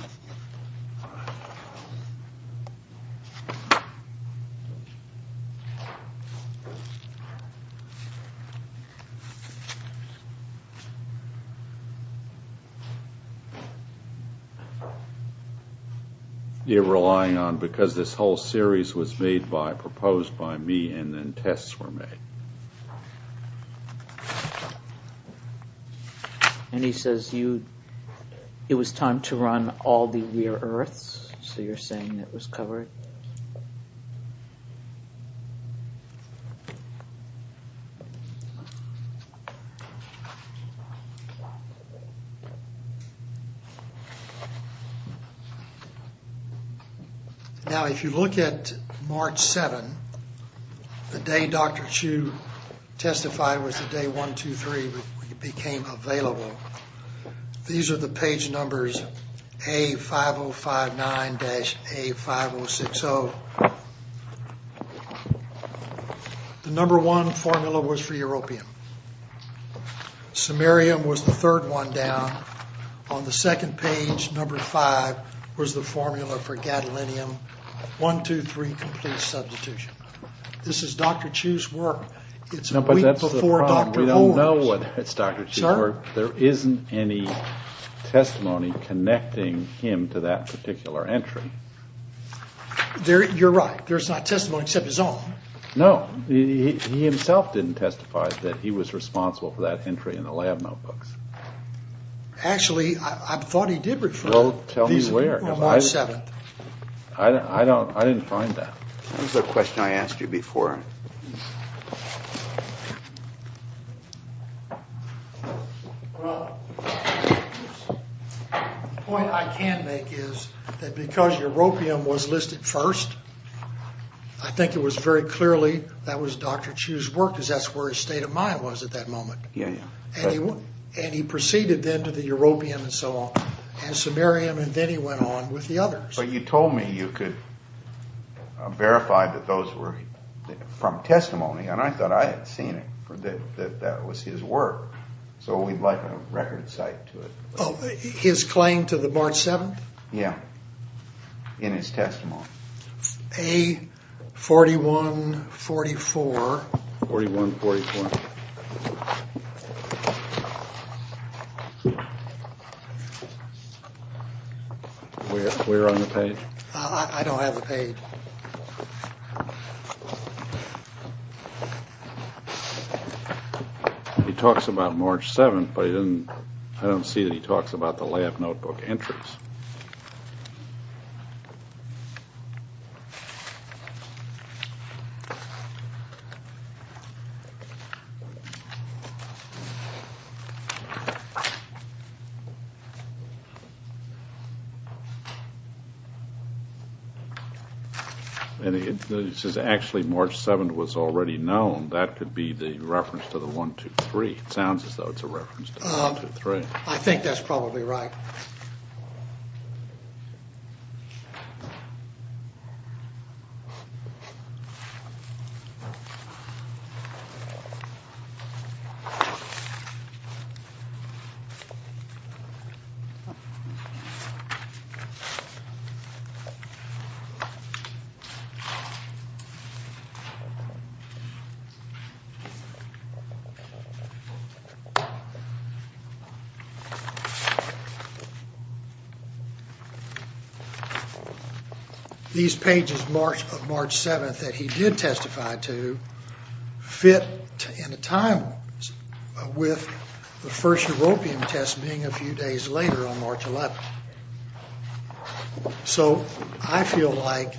You're relying on because this whole series was made by, proposed by me and then tests were made. And he says you, it was time to run all the rear earths. So you're saying it was covered. Yes. Now, if you look at March 7, the day Dr. Chu testified was the day 1-2-3 became available. These are the page numbers A-5059-A-5060. The number one formula was for europium. Samarium was the third one down. On the second page, number five was the formula for gadolinium. 1-2-3 complete substitution. This is Dr. Chu's work. It's a week before Dr. Warren's. I don't know whether it's Dr. Chu's work. Sir? There isn't any testimony connecting him to that particular entry. You're right. There's not testimony except his own. No. He himself didn't testify that he was responsible for that entry in the lab notebooks. Actually, I thought he did refer. Well, tell me where. On March 7th. I didn't find that. Here's a question I asked you before. Well, the point I can make is that because europium was listed first, I think it was very clearly that was Dr. Chu's work because that's where his state of mind was at that moment. Yeah, yeah. And he proceeded then to the europium and so on, and samarium, and then he went on with the others. But you told me you could verify that those were from testimony, and I thought I had seen it, that that was his work, so we'd like a record cite to it. His claim to the March 7th? Yeah, in his testimony. A4144. 4144. We're on the page. I don't have the page. He talks about March 7th, but I don't see that he talks about the lab notebook entries. And it says actually March 7th was already known. That could be the reference to the 123. It sounds as though it's a reference to 123. I think that's probably right. These pages of March 7th that he did testify to fit in a time with the first europium test being a few days later on March 11th. So I feel like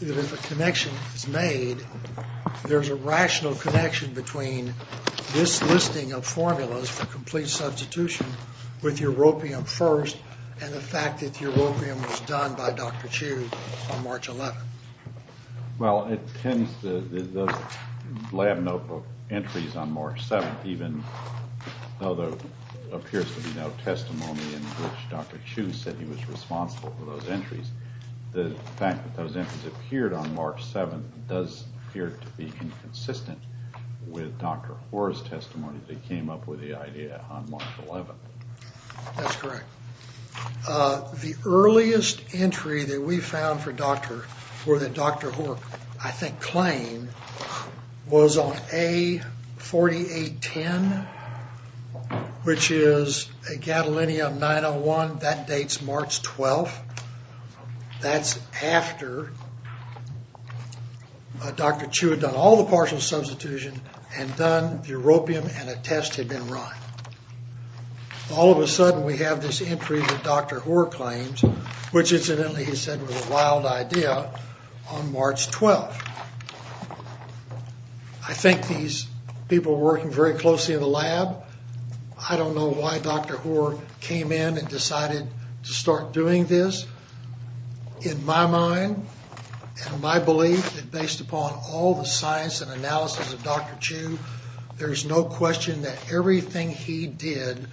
if a connection is made, there's a rational connection between this listing of formulas for complete substitution with europium first and the fact that europium was done by Dr. Chu on March 11th. Well, it tends to, those lab notebook entries on March 7th, even though there appears to be no testimony in which Dr. Chu said he was responsible for those entries, the fact that those entries appeared on March 7th does appear to be inconsistent with Dr. Hoare's testimony that he came up with the idea on March 11th. That's correct. The earliest entry that we found for Dr. Hoare, I think claimed, was on A4810, which is gadolinium 901. That dates March 12th. That's after Dr. Chu had done all the partial substitution and done the europium and a test had been run. All of a sudden we have this entry that Dr. Hoare claims, which incidentally he said was a wild idea, on March 12th. I think these people were working very closely in the lab. I don't know why Dr. Hoare came in and decided to start doing this. In my mind and my belief that based upon all the science and analysis of Dr. Chu, there's no question that everything he did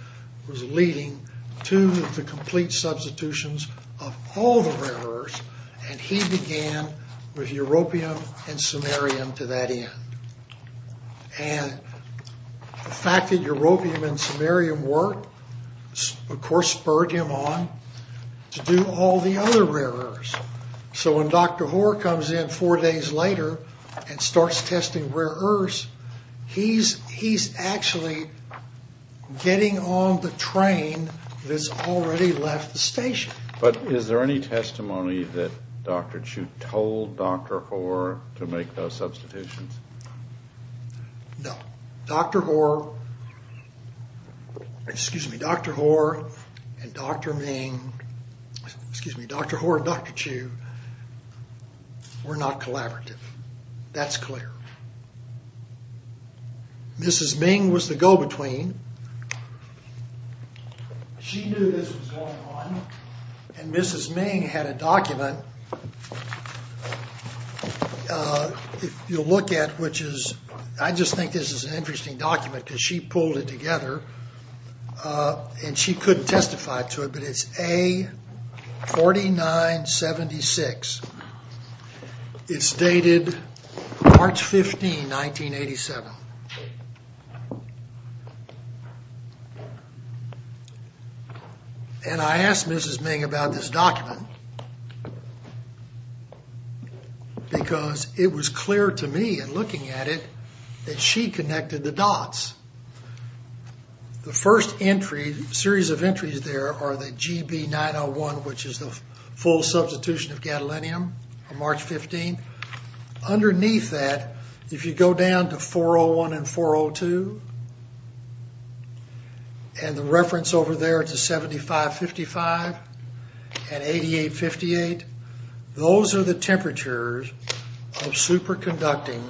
was leading to the complete substitutions of all the rare earths. He began with europium and samarium to that end. The fact that europium and samarium worked, of course, spurred him on to do all the other rare earths. So when Dr. Hoare comes in four days later and starts testing rare earths, he's actually getting on the train that's already left the station. But is there any testimony that Dr. Chu told Dr. Hoare to make those substitutions? No. Dr. Hoare and Dr. Chu were not collaborative. That's clear. Mrs. Ming was the go-between. She knew this was going on and Mrs. Ming had a document. I just think this is an interesting document because she pulled it together and she couldn't testify to it, but it's A4976. It's dated March 15, 1987. I asked Mrs. Ming about this document because it was clear to me in looking at it that she connected the dots. The first series of entries there are the GB901, which is the full substitution of gadolinium on March 15. Underneath that, if you go down to 401 and 402, and the reference over there to 7555 and 8858, those are the temperatures of superconducting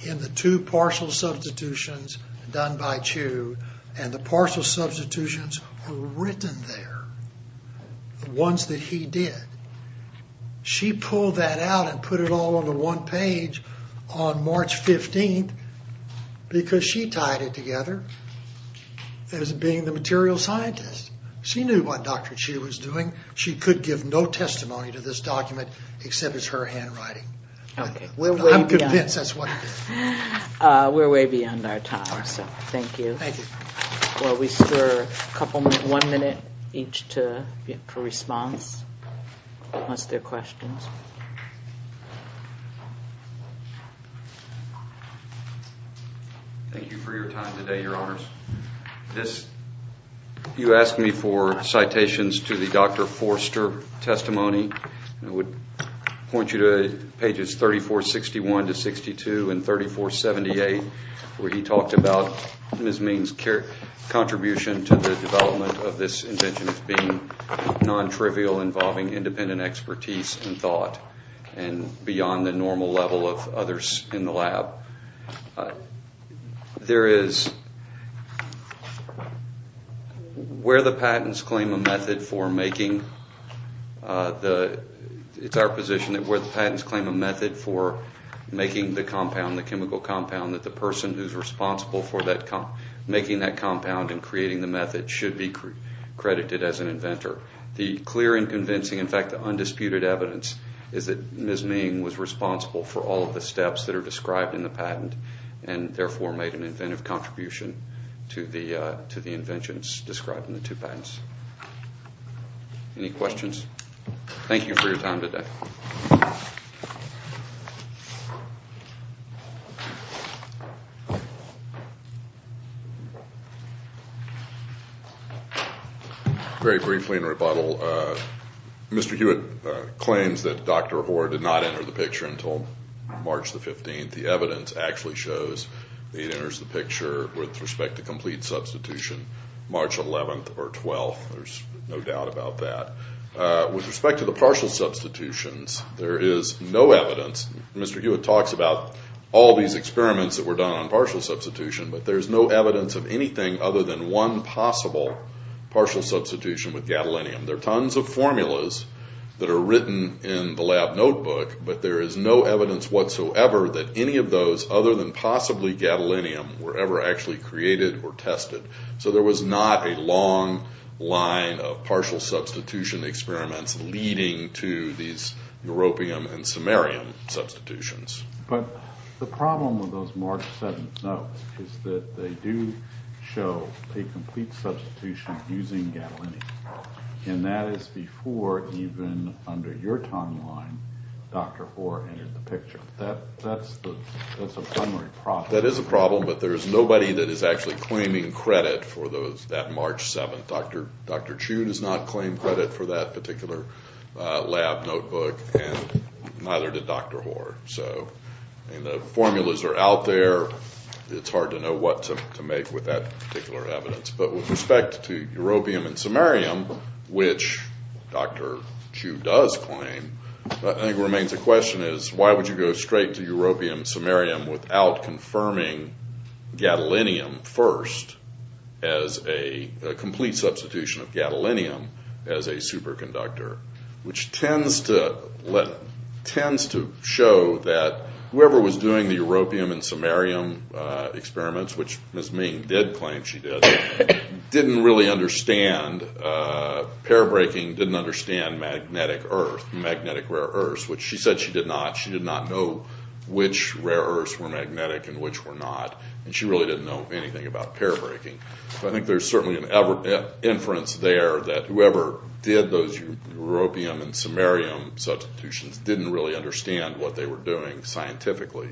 in the two partial substitutions done by Chu, and the partial substitutions were written there, the ones that he did. She pulled that out and put it all on the one page on March 15 because she tied it together as being the material scientist. She knew what Dr. Chu was doing. She could give no testimony to this document except it's her handwriting. I'm convinced that's what it is. We're way beyond our time, so thank you. Well, we still have one minute each for response, unless there are questions. Thank you for your time today, Your Honors. You asked me for citations to the Dr. Forster testimony. I would point you to pages 3461-62 and 3478, where he talked about Ms. Means' contribution to the development of this invention as being non-trivial, involving independent expertise and thought, and beyond the normal level of others in the lab. There is where the patents claim a method for making the compound, the chemical compound, that the person who's responsible for making that compound and creating the method should be credited as an inventor. The clear and convincing, in fact the undisputed evidence, is that Ms. Ming was responsible for all of the steps that are described in the patent and therefore made an inventive contribution to the inventions described in the two patents. Any questions? Thank you for your time today. Very briefly in rebuttal, Mr. Hewitt claims that Dr. Hoare did not enter the picture until March the 15th. The evidence actually shows that he enters the picture with respect to complete substitution March 11th or 12th. There's no doubt about that. With respect to the partial substitutions, there is no doubt that Dr. Hoare did not enter the picture until March the 15th. Mr. Hewitt talks about all these experiments that were done on partial substitution, but there's no evidence of anything other than one possible partial substitution with gadolinium. There are tons of formulas that are written in the lab notebook, but there is no evidence whatsoever that any of those other than possibly gadolinium were ever actually created or tested. So there was not a long line of partial substitution experiments leading to these europium and samarium substitutions. But the problem with those March 7th notes is that they do show a complete substitution using gadolinium, and that is before even under your timeline Dr. Hoare entered the picture. That's a primary problem. That is a problem, but there's nobody that is actually claiming credit for that March 7th. Dr. Chu does not claim credit for that particular lab notebook, and neither did Dr. Hoare. So the formulas are out there. It's hard to know what to make with that particular evidence. But with respect to europium and samarium, which Dr. Chu does claim, I think it remains a question is why would you go straight to europium and samarium without confirming gadolinium first as a complete substitution of gadolinium as a superconductor, which tends to show that whoever was doing the europium and samarium experiments, which Ms. Main did claim she did, didn't really understand magnetic rare earths, which she said she did not. She did not know which rare earths were magnetic and which were not, and she really didn't know anything about pair breaking. So I think there's certainly an inference there that whoever did those europium and samarium substitutions didn't really understand what they were doing scientifically.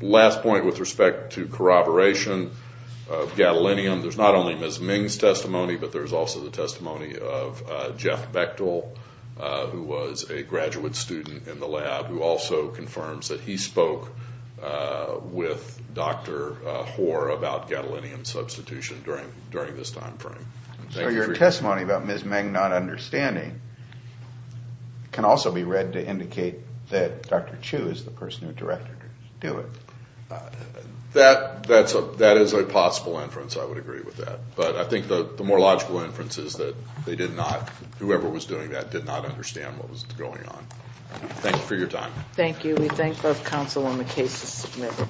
Last point with respect to corroboration of gadolinium, there's not only Ms. Ming's testimony, but there's also the testimony of Jeff Bechtel, who was a graduate student in the lab, who also confirms that he spoke with Dr. Hoare about gadolinium substitution during this time frame. So your testimony about Ms. Ming not understanding can also be read to indicate that Dr. Chu is the person who directed it. That is a possible inference, I would agree with that. But I think the more logical inference is that they did not, whoever was doing that did not understand what was going on. Thank you for your time. Thank you. We thank both counsel when the case is submitted.